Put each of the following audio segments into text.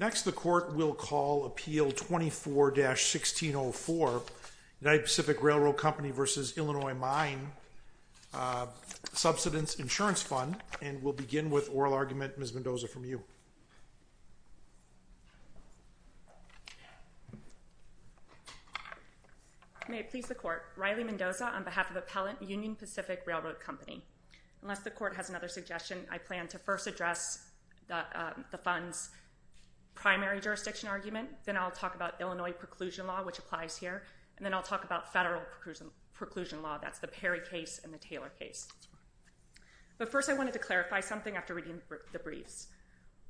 Next, the United Pacific Railroad Company v. Illinois Mine Subsidence Insurance Fund, and we'll begin with oral argument, Ms. Mendoza, from you. May it please the Court, Riley Mendoza on behalf of Appellant Union Pacific Railroad Company. Unless the Court has another suggestion, I plan to first address the fund's primary jurisdiction argument, then I'll talk about Illinois preclusion law, which applies here, and then I'll talk about federal preclusion law, that's the Perry case and the Taylor case. But first I wanted to clarify something after reading the briefs.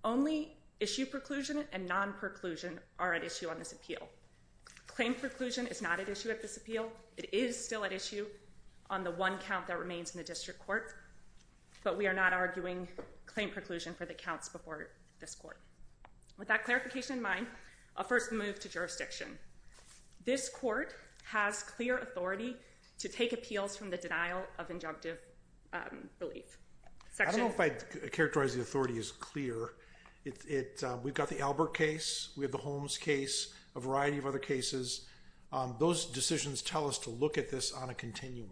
Only issue preclusion and non-preclusion are at issue on this appeal. Claim preclusion is not at issue at this appeal. It is still at issue on the one count that remains in the District Court, but we are not arguing claim preclusion for the counts before this Court. With that clarification in mind, I'll first move to jurisdiction. This Court has clear authority to take appeals from the denial of injunctive relief. I don't know if I'd characterize the authority as clear. We've got the Albert case, we have the Holmes case, a variety of other cases. Those decisions tell us to look at this on a continuum.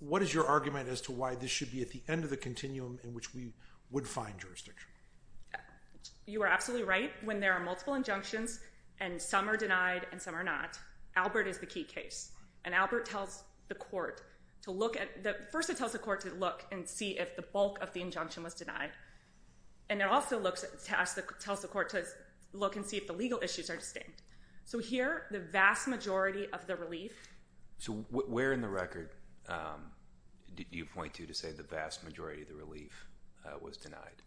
What is your argument as to why this should be at the end of the continuum in which we would find jurisdiction? You are absolutely right. When there are multiple injunctions, and some are denied and some are not, Albert is the key case. And Albert tells the Court to look at, first it tells the Court to look and see if the bulk of the injunction was denied. And it also tells the Court to look and see if the legal issues are distinct. So here, the vast majority of the relief. So where in the record do you point to to say the vast majority of the relief was denied?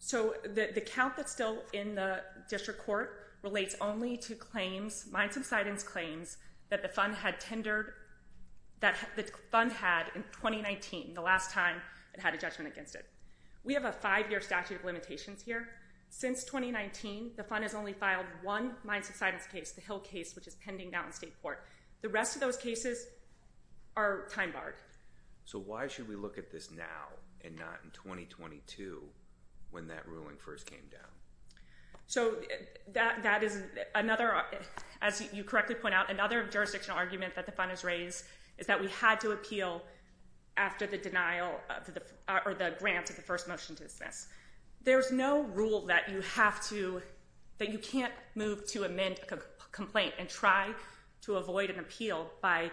So the count that's still in the District Court relates only to claims, mines subsidence claims that the fund had tendered, that the fund had in 2019, the last time it had a judgment against it. We have a five-year statute of limitations here. Since 2019, the fund has only filed one mines subsidence case, the Hill case, which is pending now in State Court. The rest of those cases are time barred. So why should we look at this now and not in 2022 when that ruling first came down? So that is another, as you correctly point out, another jurisdictional argument that the fund has raised is that we had to appeal after the denial of the, or the grant of the first motion to dismiss. There's no rule that you have to, that you can't move to amend a complaint and try to avoid an appeal by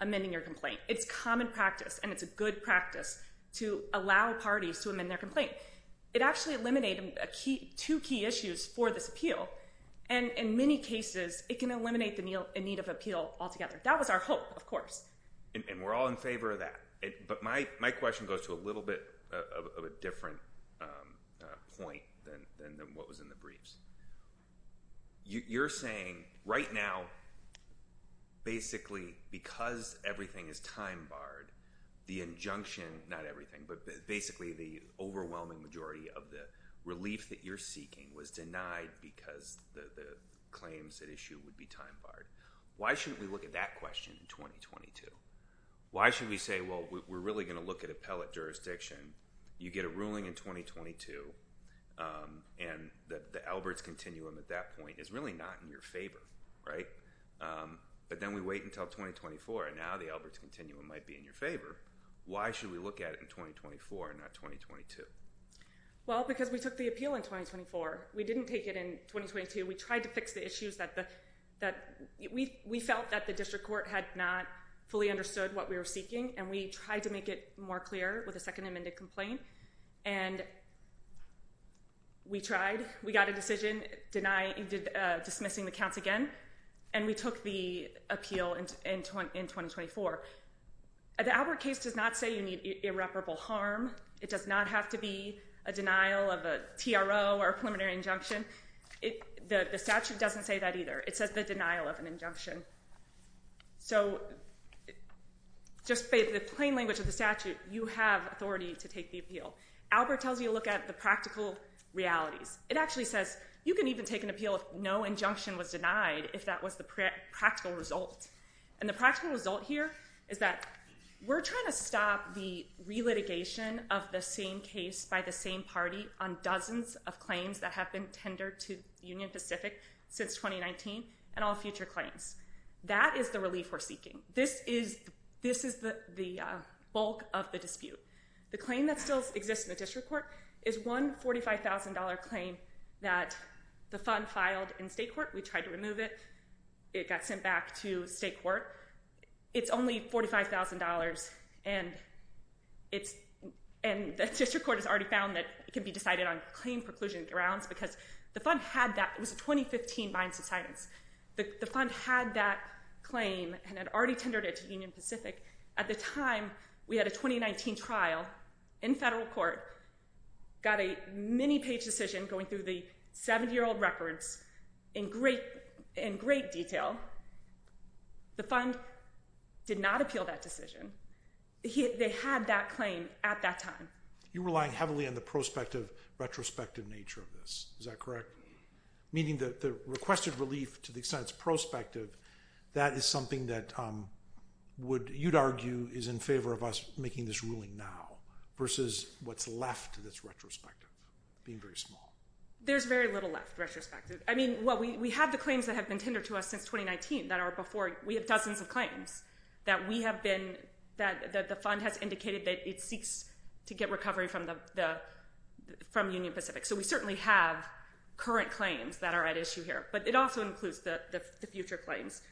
amending your complaint. It's common practice and it's a good practice to allow parties to amend their complaint. It actually eliminated two key issues for this appeal, and in many cases, it can eliminate the need of appeal altogether. That was our hope, of course. And we're all in favor of that. But my question goes to a little bit of a different point than what was in the briefs. You're saying right now, basically, because everything is time barred, the injunction, not everything, but basically the overwhelming majority of the relief that you're seeking was denied because the claims at issue would be time barred. Why shouldn't we look at that question in 2022? Why should we say, well, we're really going to look at appellate jurisdiction. You get a ruling in 2022, and the Alberts Continuum at that point is really not in your favor, right? But then we wait until 2024, and now the Alberts Continuum might be in your favor. Why should we look at it in 2024 and not 2022? Well, because we took the appeal in 2024. We didn't take it in 2022. We tried to fix the issues that we felt that the district court had not fully understood what we were seeking. And we tried to make it more clear with a second amended complaint. And we tried. We got a decision dismissing the counts again. And we took the appeal in 2024. The Albert case does not say you need irreparable harm. It does not have to be a denial of a TRO or a preliminary injunction. The statute doesn't say that either. It says the denial of an injunction. So just by the plain language of the statute, you have authority to take the appeal. Albert tells you to look at the practical realities. It actually says you can even take an appeal if no injunction was denied, if that was the practical result. And the practical result here is that we're trying to stop the re-litigation of the same case by the same party on dozens of claims that have been tendered to Union Pacific since 2019 and all future claims. That is the relief we're seeking. This is the bulk of the dispute. The claim that still exists in the district court is one $45,000 claim that the fund filed in state court. We tried to remove it. It got sent back to state court. It's only $45,000, and the district court has already found that it can be decided on claim preclusion grounds because the fund had that. It was a 2015 Binds of Silence. The fund had that claim and had already tendered it to Union Pacific. At the time, we had a 2019 trial in federal court, got a many-page decision going through the 70-year-old records in great detail. The fund did not appeal that decision. They had that claim at that time. You're relying heavily on the prospective, retrospective nature of this, is that correct? Meaning the requested relief, to the extent it's prospective, that is something that you'd argue is in favor of us making this ruling now versus what's left that's retrospective, being very small. There's very little left, retrospective. I mean, we have the claims that have been tendered to us since 2019 that are before. We have dozens of claims that we have been, that the fund has indicated that it seeks to get recovery from Union Pacific. So we certainly have current claims that are at issue here, but it also includes the future claims.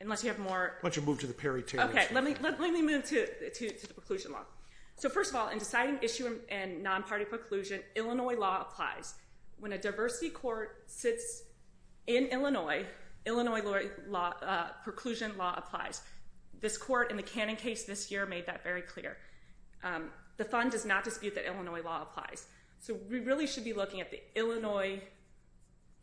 Unless you have more. Why don't you move to the peritoneum. Okay, let me move to the preclusion law. So first of all, in deciding issue and non-party preclusion, Illinois law applies. When a diversity court sits in Illinois, Illinois law, preclusion law applies. This court in the Cannon case this year made that very clear. The fund does not dispute that Illinois law applies. So we really should be looking at the Illinois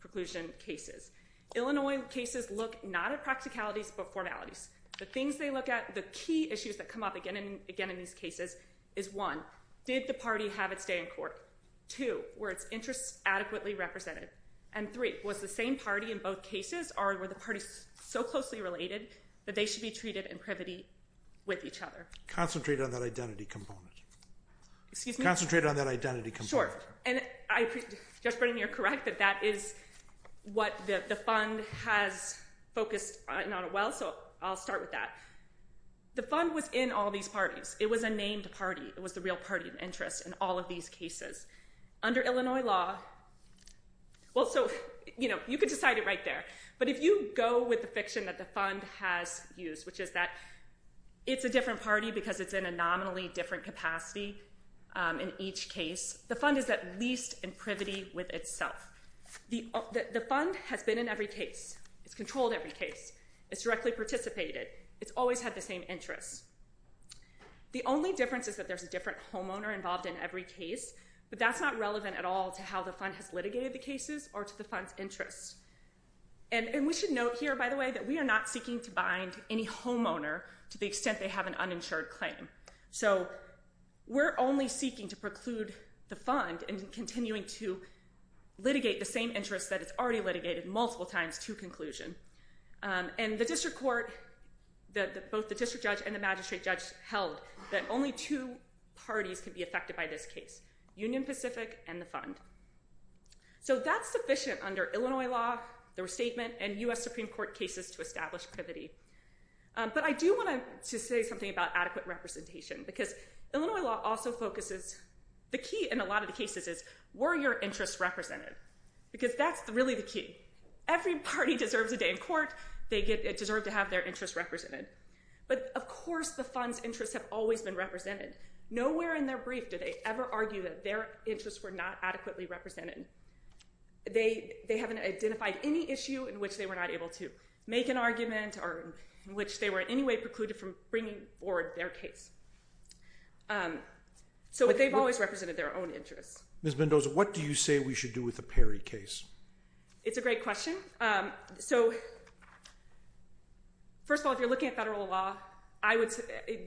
preclusion cases. Illinois cases look not at practicalities but formalities. The things they look at, the key issues that come up again and again in these cases is one, did the party have its day in court? Two, were its interests adequately represented? And three, was the same party in both cases or were the parties so closely related that they should be treated in privity with each other? Concentrate on that identity component. Excuse me? Concentrate on that identity component. And I, Judge Brennan, you're correct that that is what the fund has focused on, well, so I'll start with that. The fund was in all these parties. It was a named party. It was the real party of interest in all of these cases. Under Illinois law, well, so, you know, you can decide it right there. But if you go with the fiction that the fund has used, which is that it's a different party because it's in a nominally different capacity in each case, the fund is at least in privity with itself. The fund has been in every case. It's controlled every case. It's directly participated. It's always had the same interests. The only difference is that there's a different homeowner involved in every case, but that's not relevant at all to how the fund has litigated the cases or to the fund's interests. And we should note here, by the way, that we are not seeking to bind any homeowner to the extent they have an uninsured claim. So we're only seeking to preclude the fund and continuing to litigate the same interests that it's already litigated multiple times to conclusion. And the district court, both the district judge and the magistrate judge held that only two parties could be affected by this case, Union Pacific and the fund. So that's sufficient under Illinois law, the restatement, and U.S. Supreme Court cases to establish privity. But I do want to say something about adequate representation because Illinois law also focuses, the key in a lot of the cases is, were your interests represented? Because that's really the key. Every party deserves a day in court. They deserve to have their interests represented. But of course the fund's interests have always been represented. Nowhere in their brief did they ever argue that their interests were not adequately represented. They haven't identified any issue in which they were not able to make an argument or in which they were in any way precluded from bringing forward their case. So they've always represented their own interests. Ms. Mendoza, what do you say we should do with the Perry case? It's a great question. So first of all, if you're looking at federal law,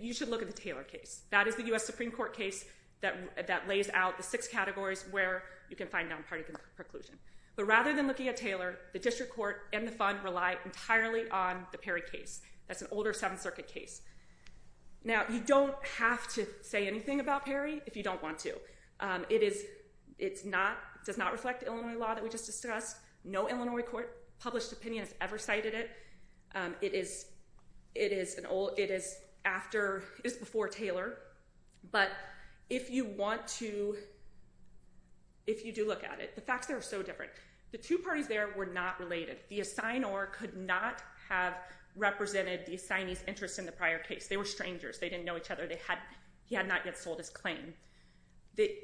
you should look at the Taylor case. That is the U.S. Supreme Court case that lays out the six categories where you can find nonpartisan preclusion. But rather than looking at Taylor, the district court and the fund rely entirely on the Perry case. That's an older Seventh Circuit case. Now, you don't have to say anything about Perry if you don't want to. It is, it's not, it does not reflect Illinois law that we just discussed. No Illinois court published opinion has ever cited it. It is, it is an old, it is after, it is before Taylor. But if you want to, if you do look at it, the facts there are so different. The two parties there were not related. The assignor could not have represented the assignee's interest in the prior case. They were strangers. They didn't know each other. They had, he had not yet sold his claim.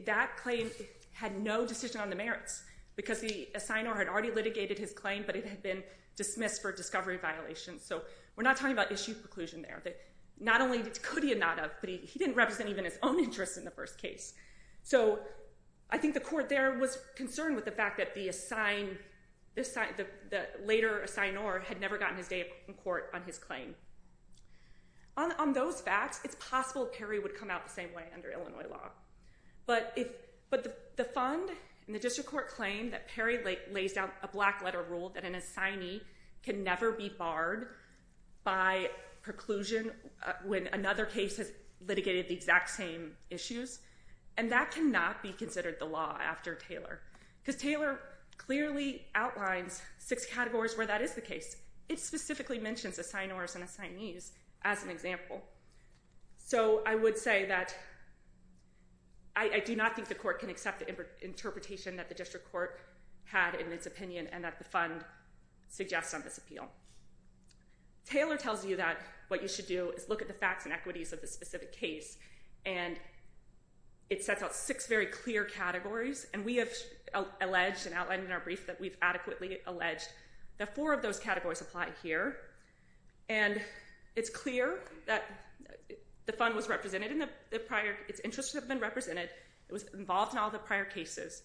That claim had no decision on the merits because the assignor had already litigated his claim, but it had been dismissed for discovery violations. So we're not talking about issue preclusion there. Not only could he not have, but he didn't represent even his own interest in the first case. So I think the court there was concerned with the fact that the assign, the later assignor had never gotten his day in court on his claim. On those facts, it's possible Perry would come out the same way under Illinois law. But if, but the fund and the district court claim that Perry lays out a black letter rule that an assignee can never be barred by preclusion when another case has litigated the exact same issues, and that cannot be considered the law after Taylor, because Taylor clearly outlines six categories where that is the case. It specifically mentions assignors and assignees as an example. So I would say that I do not think the court can accept the interpretation that the district court had in its opinion and that the fund suggests on this appeal. Taylor tells you that what you should do is look at the facts and equities of the specific case, and it sets out six very clear categories. And we have alleged and outlined in our brief that we've adequately alleged that four of those categories apply here. And it's clear that the fund was represented in the prior, its interests have been represented, it was involved in all the prior cases.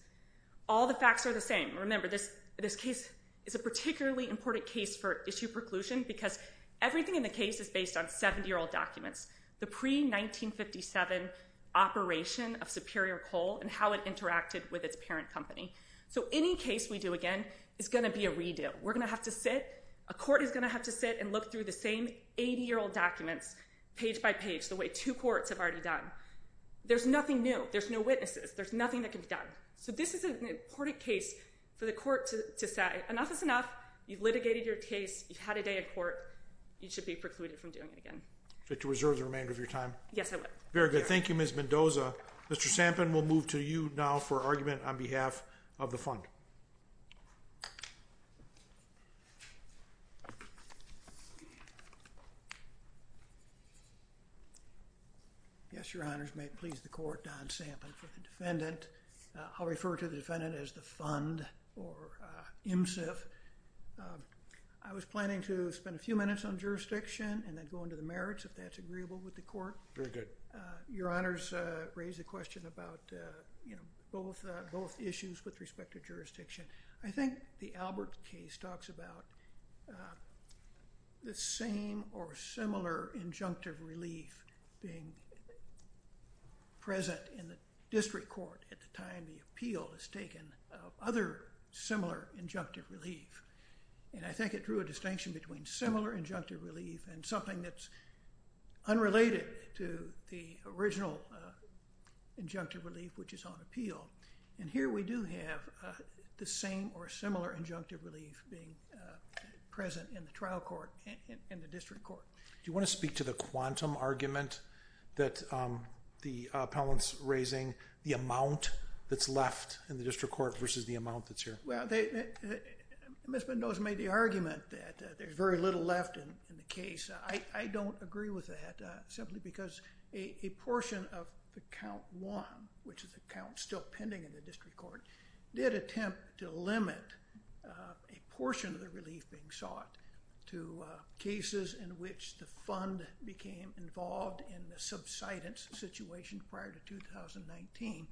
All the facts are the same. Remember, this case is a particularly important case for issue preclusion because everything in the case is based on 70-year-old documents. The pre-1957 operation of Superior Coal and how it interacted with its parent company. So any case we do again is going to be a redo. We're going to have to sit, a court is going to have to sit and look through the same 80-year-old documents page by page, the way two courts have already done. There's nothing new. There's no witnesses. There's nothing that can be done. So this is an important case for the court to say, enough is enough, you've litigated your case, you've had a day in court, you should be precluded from doing it again. I'd like to reserve the remainder of your time. Yes, I would. Very good. Thank you, Ms. Mendoza. Mr. Sampin, we'll move to you now for argument on behalf of the fund. Yes, your honors. May it please the court, Don Sampin for the defendant. I'll refer to the defendant as the fund or IMSIF. I was planning to spend a few minutes on jurisdiction and then go into the merits if that's agreeable with the court. Very good. Your honors raised a question about, you know, both issues with respect to jurisdiction. I think the Albert case talks about the same or similar injunctive relief being present in the district court at the time the appeal is taken of other similar injunctive relief. And I think it drew a distinction between similar injunctive relief and something that's unrelated to the original injunctive relief which is on appeal. And here we do have the same or similar injunctive relief being present in the trial court and the district court. Do you want to speak to the quantum argument that the appellant's raising, the amount that's left in the district court versus the amount that's here? Well, Ms. Mendoza made the argument that there's very little left in the case. I don't agree with that simply because a portion of the count one, which is a count still pending in the district court, did attempt to limit a portion of the relief being sought to cases in which the fund became involved in the subsidence situation prior to 2019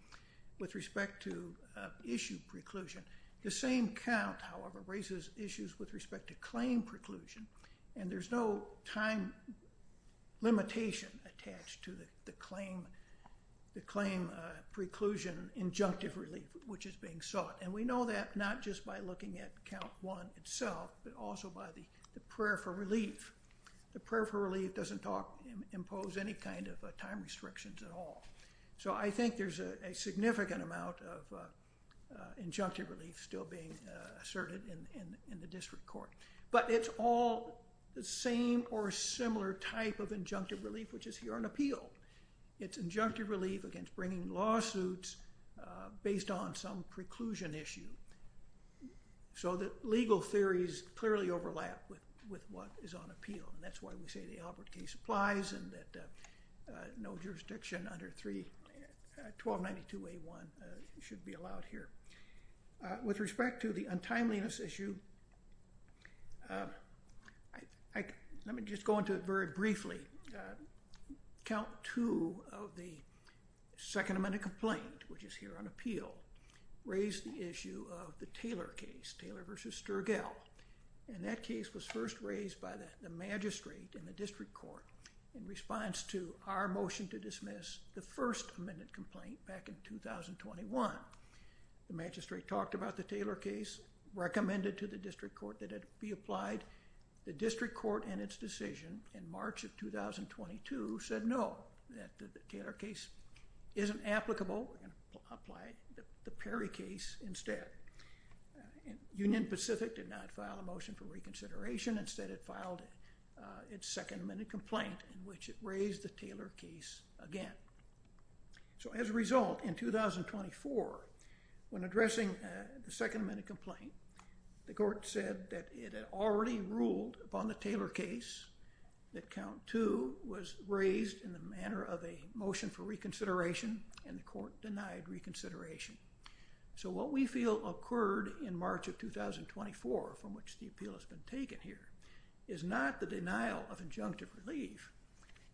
with respect to issue preclusion. The same count, however, raises issues with respect to claim preclusion. And there's no time limitation attached to the claim preclusion injunctive relief which is being sought. And we know that not just by looking at count one itself but also by the prayer for relief. The prayer for relief doesn't impose any kind of time restrictions at all. So I think there's a significant amount of injunctive relief still being asserted in the district court. But it's all the same or similar type of injunctive relief which is here on appeal. It's injunctive relief against bringing lawsuits based on some preclusion issue so that legal theories clearly overlap with what is on appeal. And that's why we say the Albert case applies and that no jurisdiction under 1292A1 should be allowed here. With respect to the untimeliness issue, let me just go into it very briefly. Count two of the second amended complaint which is here on appeal raised the issue of the Taylor case, Taylor v. Sturgill. And that case was first raised by the magistrate in the district court in response to our motion to dismiss the first amended complaint back in 2021. The magistrate talked about the Taylor case, recommended to the district court that it be applied. The district court in its decision in March of 2022 said no, that the Taylor case isn't applicable and applied the Perry case instead. Union Pacific did not file a motion for reconsideration. Instead it filed its second amended complaint in which it raised the Taylor case again. So as a result, in 2024, when addressing the second amended complaint, the court said that it had already ruled upon the Taylor case that count two was raised in the manner of a motion for reconsideration and the court denied reconsideration. So what we feel occurred in March of 2024 from which the appeal has been taken here is not the denial of injunctive relief,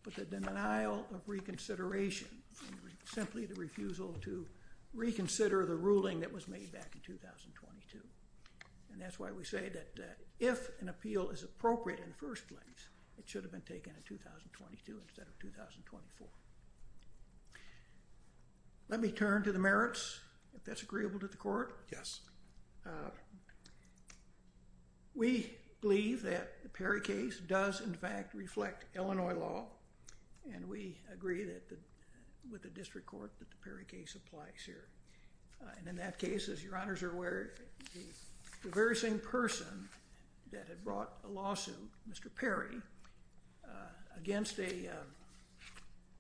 but the denial of reconsideration, simply the refusal to reconsider the ruling that was made back in 2022. And that's why we say that if an appeal is appropriate in the first place, it should have been taken in 2022 instead of 2024. Let me turn to the merits, if that's agreeable to the court. Yes. We believe that the Perry case does in fact reflect Illinois law, and we agree with the district court that the Perry case applies here. And in that case, as your honors are aware, the very same person that had brought a lawsuit, Mr. Perry, against a,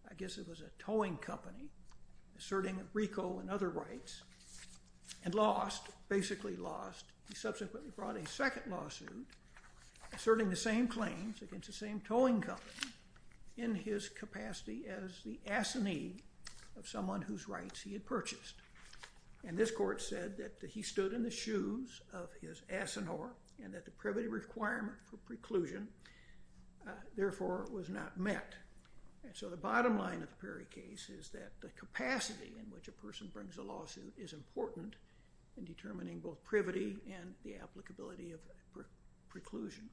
I guess it was a towing company, asserting RICO and other rights, and lost, basically lost. He subsequently brought a second lawsuit asserting the same claims against the same towing company in his capacity as the assinee of someone whose rights he had purchased. And this court said that he stood in the shoes of his assenhor and that the privity requirement for preclusion, therefore, was not met. And so the bottom line of the Perry case is that the capacity in which a person brings a lawsuit is important in determining both privity and the applicability of preclusion.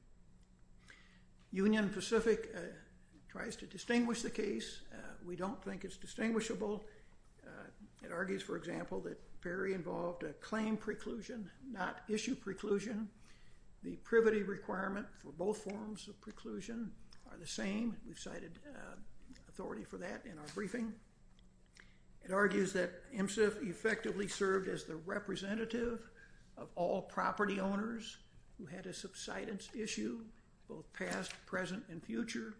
Union Pacific tries to distinguish the case. We don't think it's distinguishable. It argues, for example, that Perry involved a claim preclusion, not issue preclusion. The privity requirement for both forms of preclusion are the same. We've cited authority for that in our briefing. It argues that MSIF effectively served as the representative of all property owners who had a subsidence issue, both past, present, and future.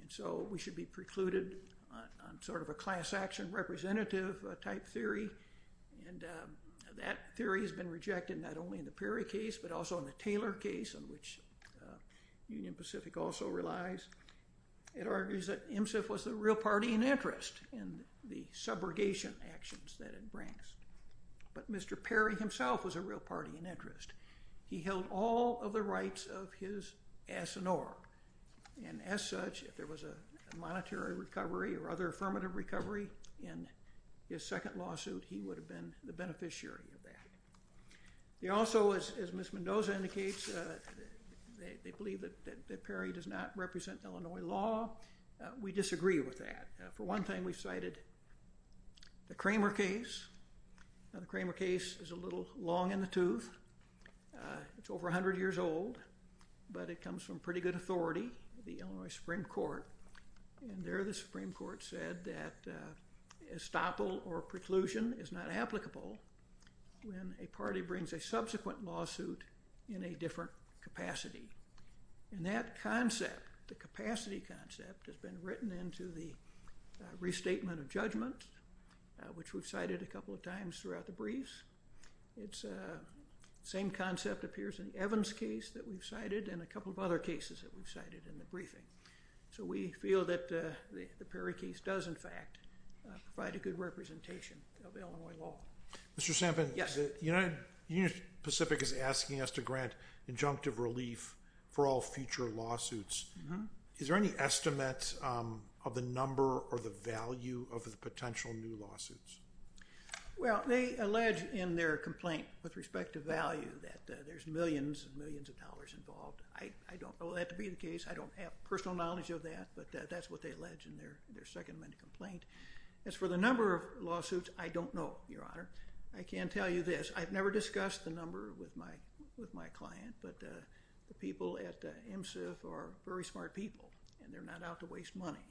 And so we should be precluded on sort of a class action representative type theory. And that theory has been rejected not only in the Perry case, but also in the Taylor case, on which Union Pacific also relies. It argues that MSIF was the real party in interest in the subrogation actions that it brings. But Mr. Perry himself was a real party in interest. He held all of the rights of his assenhor. And as such, if there was a monetary recovery or other affirmative recovery in his second lawsuit, he would have been the beneficiary of that. He also, as Ms. Mendoza indicates, they believe that Perry does not represent Illinois law. We disagree with that. For one thing, we've cited the Kramer case. Now, the Kramer case is a little long in the tooth. It's over 100 years old, but it comes from pretty good authority, the Illinois Supreme Court. And there the Supreme Court said that estoppel or preclusion is not applicable when a party brings a subsequent lawsuit in a different capacity. And that concept, the capacity concept, has been written into the restatement of judgment, which we've cited a couple of times throughout the briefs. It's the same concept appears in Evan's case that we've cited and a couple of other cases that we've cited in the briefing. So we feel that the Perry case does, in fact, provide a good representation of Illinois law. Mr. Sampson, the Union Pacific is asking us to grant injunctive relief for all future lawsuits. Is there any estimate of the number or the value of the potential new lawsuits? Well, they allege in their complaint with respect to value that there's millions and millions of dollars involved. I don't know that to be the case. I don't have personal knowledge of that, but that's what they allege in their Second Amendment complaint. As for the number of lawsuits, I don't know, Your Honor. I can tell you this. I've never discussed the number with my client, but the people at MSIF are very smart people, and they're not out to waste money.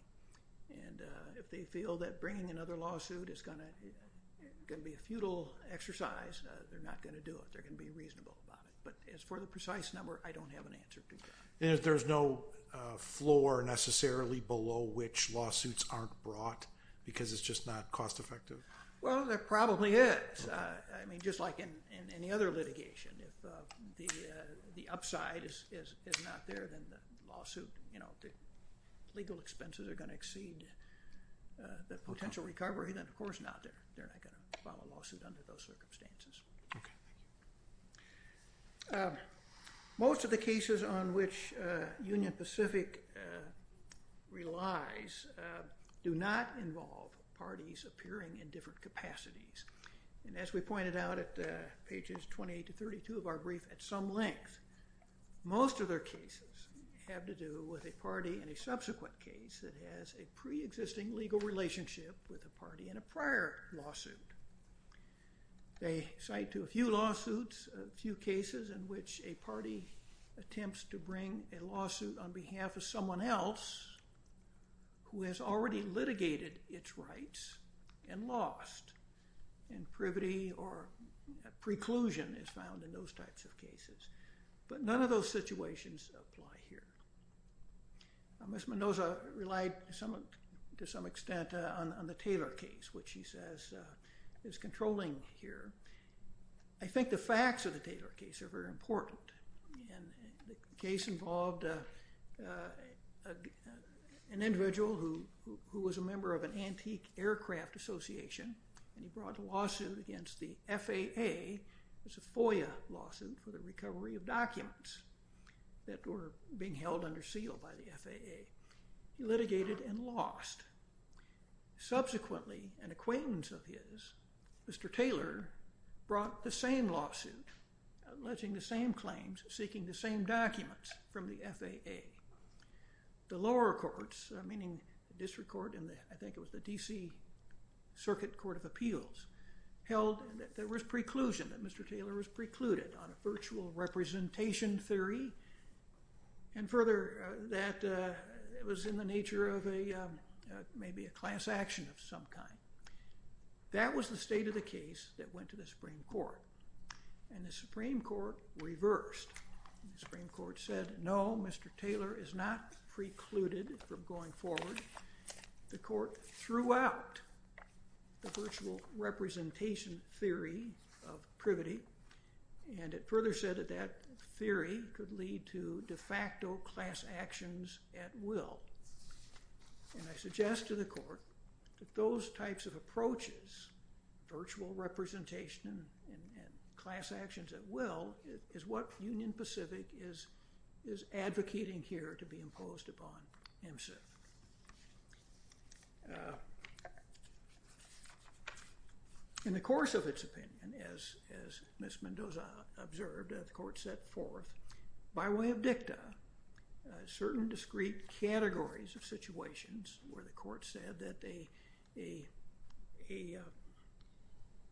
And if they feel that bringing another lawsuit is going to be a futile exercise, they're not going to do it. They're going to be reasonable about it. But as for the precise number, I don't have an answer to that. And there's no floor necessarily below which lawsuits aren't brought because it's just not cost effective? Well, there probably is. I mean, just like in any other litigation, if the upside is not there, then the lawsuit, you know, the legal expenses are going to exceed the potential recovery, then of course not. They're not going to file a lawsuit under those circumstances. Okay. Most of the cases on which Union Pacific relies do not involve parties appearing in different capacities. And as we pointed out at pages 28 to 32 of our brief, at some length, most of their cases have to do with a party in a subsequent case that has a preexisting legal relationship with a party in a prior lawsuit. They cite to a few lawsuits, a few cases in which a party attempts to bring a lawsuit on behalf of someone else who has already litigated its rights and lost and privity or preclusion is found in those types of cases. But none of those situations apply here. Ms. Mendoza relied to some extent on the Taylor case, which she says is controlling here. I think the facts of the Taylor case are very important. And the case involved an individual who was a member of an antique aircraft association and he brought a lawsuit against the FAA. It was a FOIA lawsuit for the recovery of documents that were being held under seal by the FAA. He litigated and lost. Subsequently, an acquaintance of his, Mr. Taylor, brought the same lawsuit alleging the same claims seeking the same documents from the FAA. The lower courts, meaning the district court and I think it was the D.C. Circuit Court of Appeals, held that there was preclusion, that Mr. Taylor was precluded on a virtual representation theory and further, that it was in the nature of maybe a class action of some kind. That was the state of the case that went to the Supreme Court. And the Supreme Court reversed. The Supreme Court said, no, Mr. Taylor is not precluded from going forward. The court threw out the virtual representation theory of privity and it further said that that theory could lead to de facto class actions at will. And I suggest to the court that those types of approaches, virtual representation and class actions at will, is what Union Pacific is advocating here to be imposed upon MSIF. In the course of its opinion, as Ms. Mendoza observed, the court set forth by way of dicta certain discrete categories of situations where the court said that a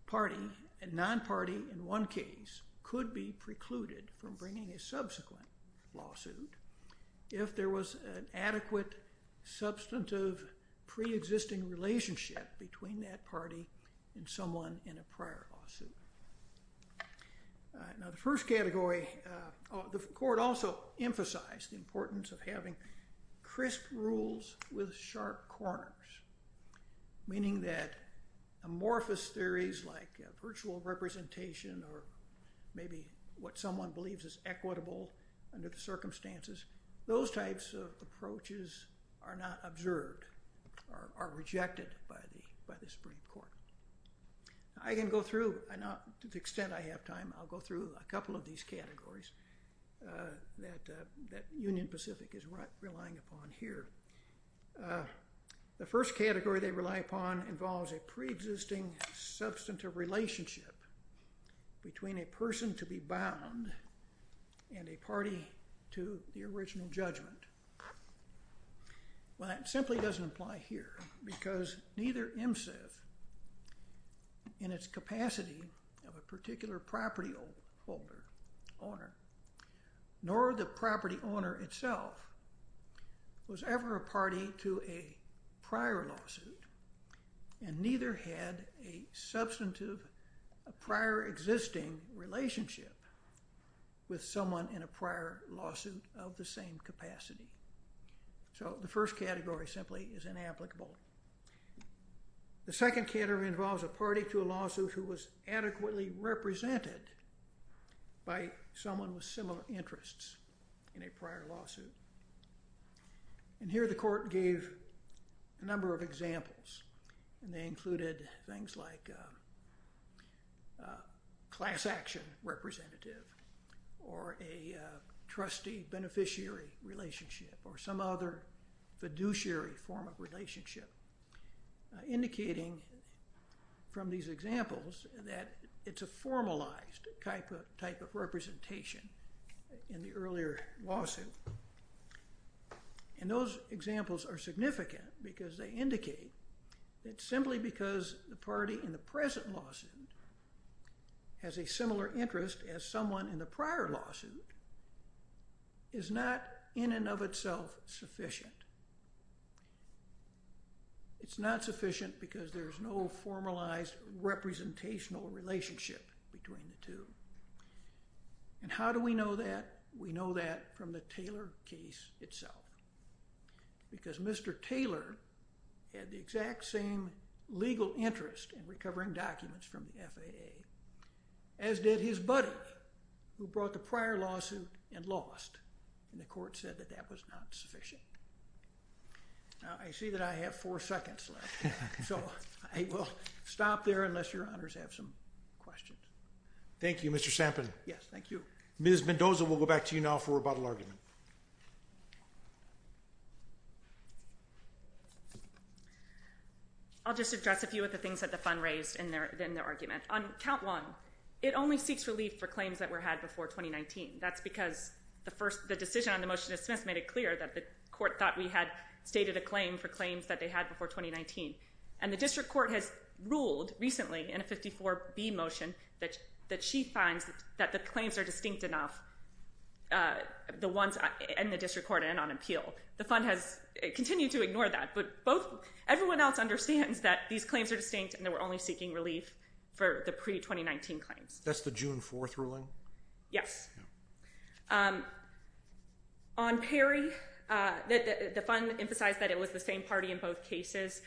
party, a non-party in one case, could be precluded from bringing a subsequent lawsuit if there was an adequate, substantive, pre-existing relationship between that party and someone in a prior lawsuit. Now, the first category, the court also emphasized the importance of having crisp rules with sharp corners, meaning that amorphous theories like virtual representation or maybe what someone believes is equitable under the circumstances, those types of approaches are not observed, are rejected by the Supreme Court. I can go through, to the extent I have time, I'll go through a couple of these categories that Union Pacific is relying upon here. The first category they rely upon involves a pre-existing, substantive relationship between a person to be bound and a party to the original judgment. Well, that simply doesn't apply here because neither MSIF in its capacity of a particular property owner nor the property owner itself was ever a party to a prior lawsuit and neither had a substantive prior existing relationship with someone in a prior lawsuit of the same capacity. So the first category simply is inapplicable. The second category involves a party to a lawsuit who was adequately represented by someone with similar interests in a prior lawsuit. And here the court gave a number of examples and they included things like class action representative or a trustee-beneficiary relationship or some other fiduciary form of relationship, indicating from these examples that it's a formalized type of representation in the earlier lawsuit. And those examples are significant because they indicate that simply because the party in the present lawsuit has a similar interest as someone in the prior lawsuit is not in and of itself sufficient. It's not sufficient because there's no formalized representational relationship between the two. And how do we know that? We know that from the Taylor case itself because Mr. Taylor had the exact same legal interest in recovering documents from the FAA as did his buddy who brought the prior lawsuit and lost and the court said that that was not sufficient. Now I see that I have four seconds left. So I will stop there unless your honors have some questions. Thank you, Mr. Sampin. Yes, thank you. Ms. Mendoza, we'll go back to you now for rebuttal argument. I'll just address a few of the things that the fund raised in their argument. On count one, it only seeks relief for claims that were had before 2019. That's because the decision on the motion to dismiss made it clear that the court thought we had stated a claim for claims that they had before 2019. And the district court has ruled recently in a 54B motion that she finds that the claims are distinct enough, the ones in the district court and on appeal. The fund has continued to ignore that, but everyone else understands that these claims are distinct and they were only seeking relief for the pre-2019 claims. That's the June 4th ruling? Yes. On Perry, the fund emphasized that it was the same party in both cases.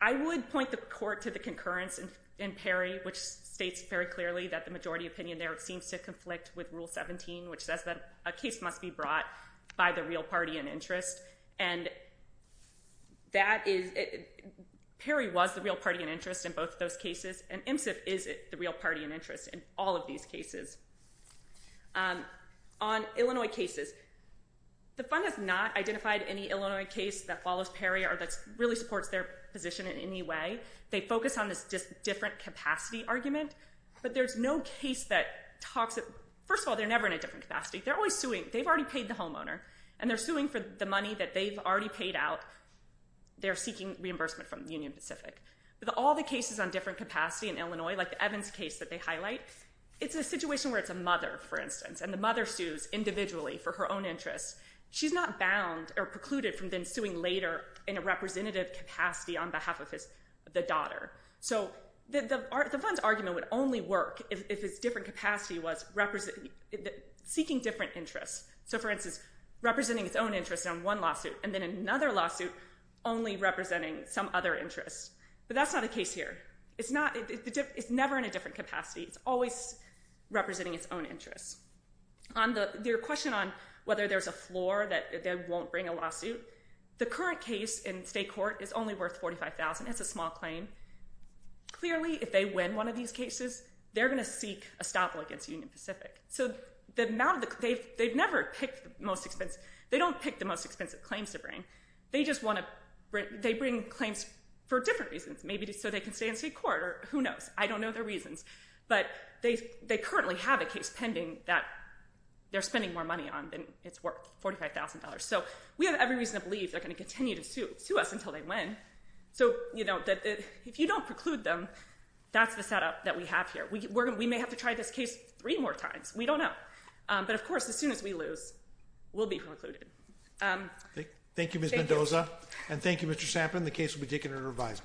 I would point the court to the concurrence in Perry, which states very clearly that the majority opinion there seems to conflict with Rule 17, which says that a case must be brought by the real party in interest. And Perry was the real party in interest in both those cases, and IMSEF is the real party in interest in all of these cases. On Illinois cases, the fund has not identified any Illinois case that follows Perry or that really supports their position in any way. They focus on this different capacity argument, but there's no case that talks of... First of all, they're never in a different capacity. They're always suing. They've already paid the homeowner, and they're suing for the money that they've already paid out. They're seeking reimbursement from Union Pacific. With all the cases on different capacity in Illinois, like the Evans case that they highlight, it's a situation where it's a mother, for instance, and the mother sues individually for her own interests. She's not bound or precluded from then suing later in a representative capacity on behalf of the daughter. So the fund's argument would only work if it's different capacity was seeking different interests. So, for instance, representing its own interests on one lawsuit and then another lawsuit only representing some other interests. But that's not the case here. It's never in a different capacity. It's always representing its own interests. Their question on whether there's a floor that they won't bring a lawsuit, the current case in state court is only worth $45,000. It's a small claim. Clearly, if they win one of these cases, they're going to seek a stop against Union Pacific. They don't pick the most expensive claims to bring. They bring claims for different reasons. Maybe so they can stay in state court. Who knows? I don't know their reasons. But they currently have a case pending that they're spending more money on than it's worth, $45,000. So we have every reason to believe they're going to continue to sue us until they win. If you don't preclude them, that's the setup that we have here. We may have to try this case three more times. We don't know. But, of course, as soon as we lose, we'll be precluded. Thank you, Ms. Mendoza. And thank you, Mr. Sampin. The case will be taken under revision.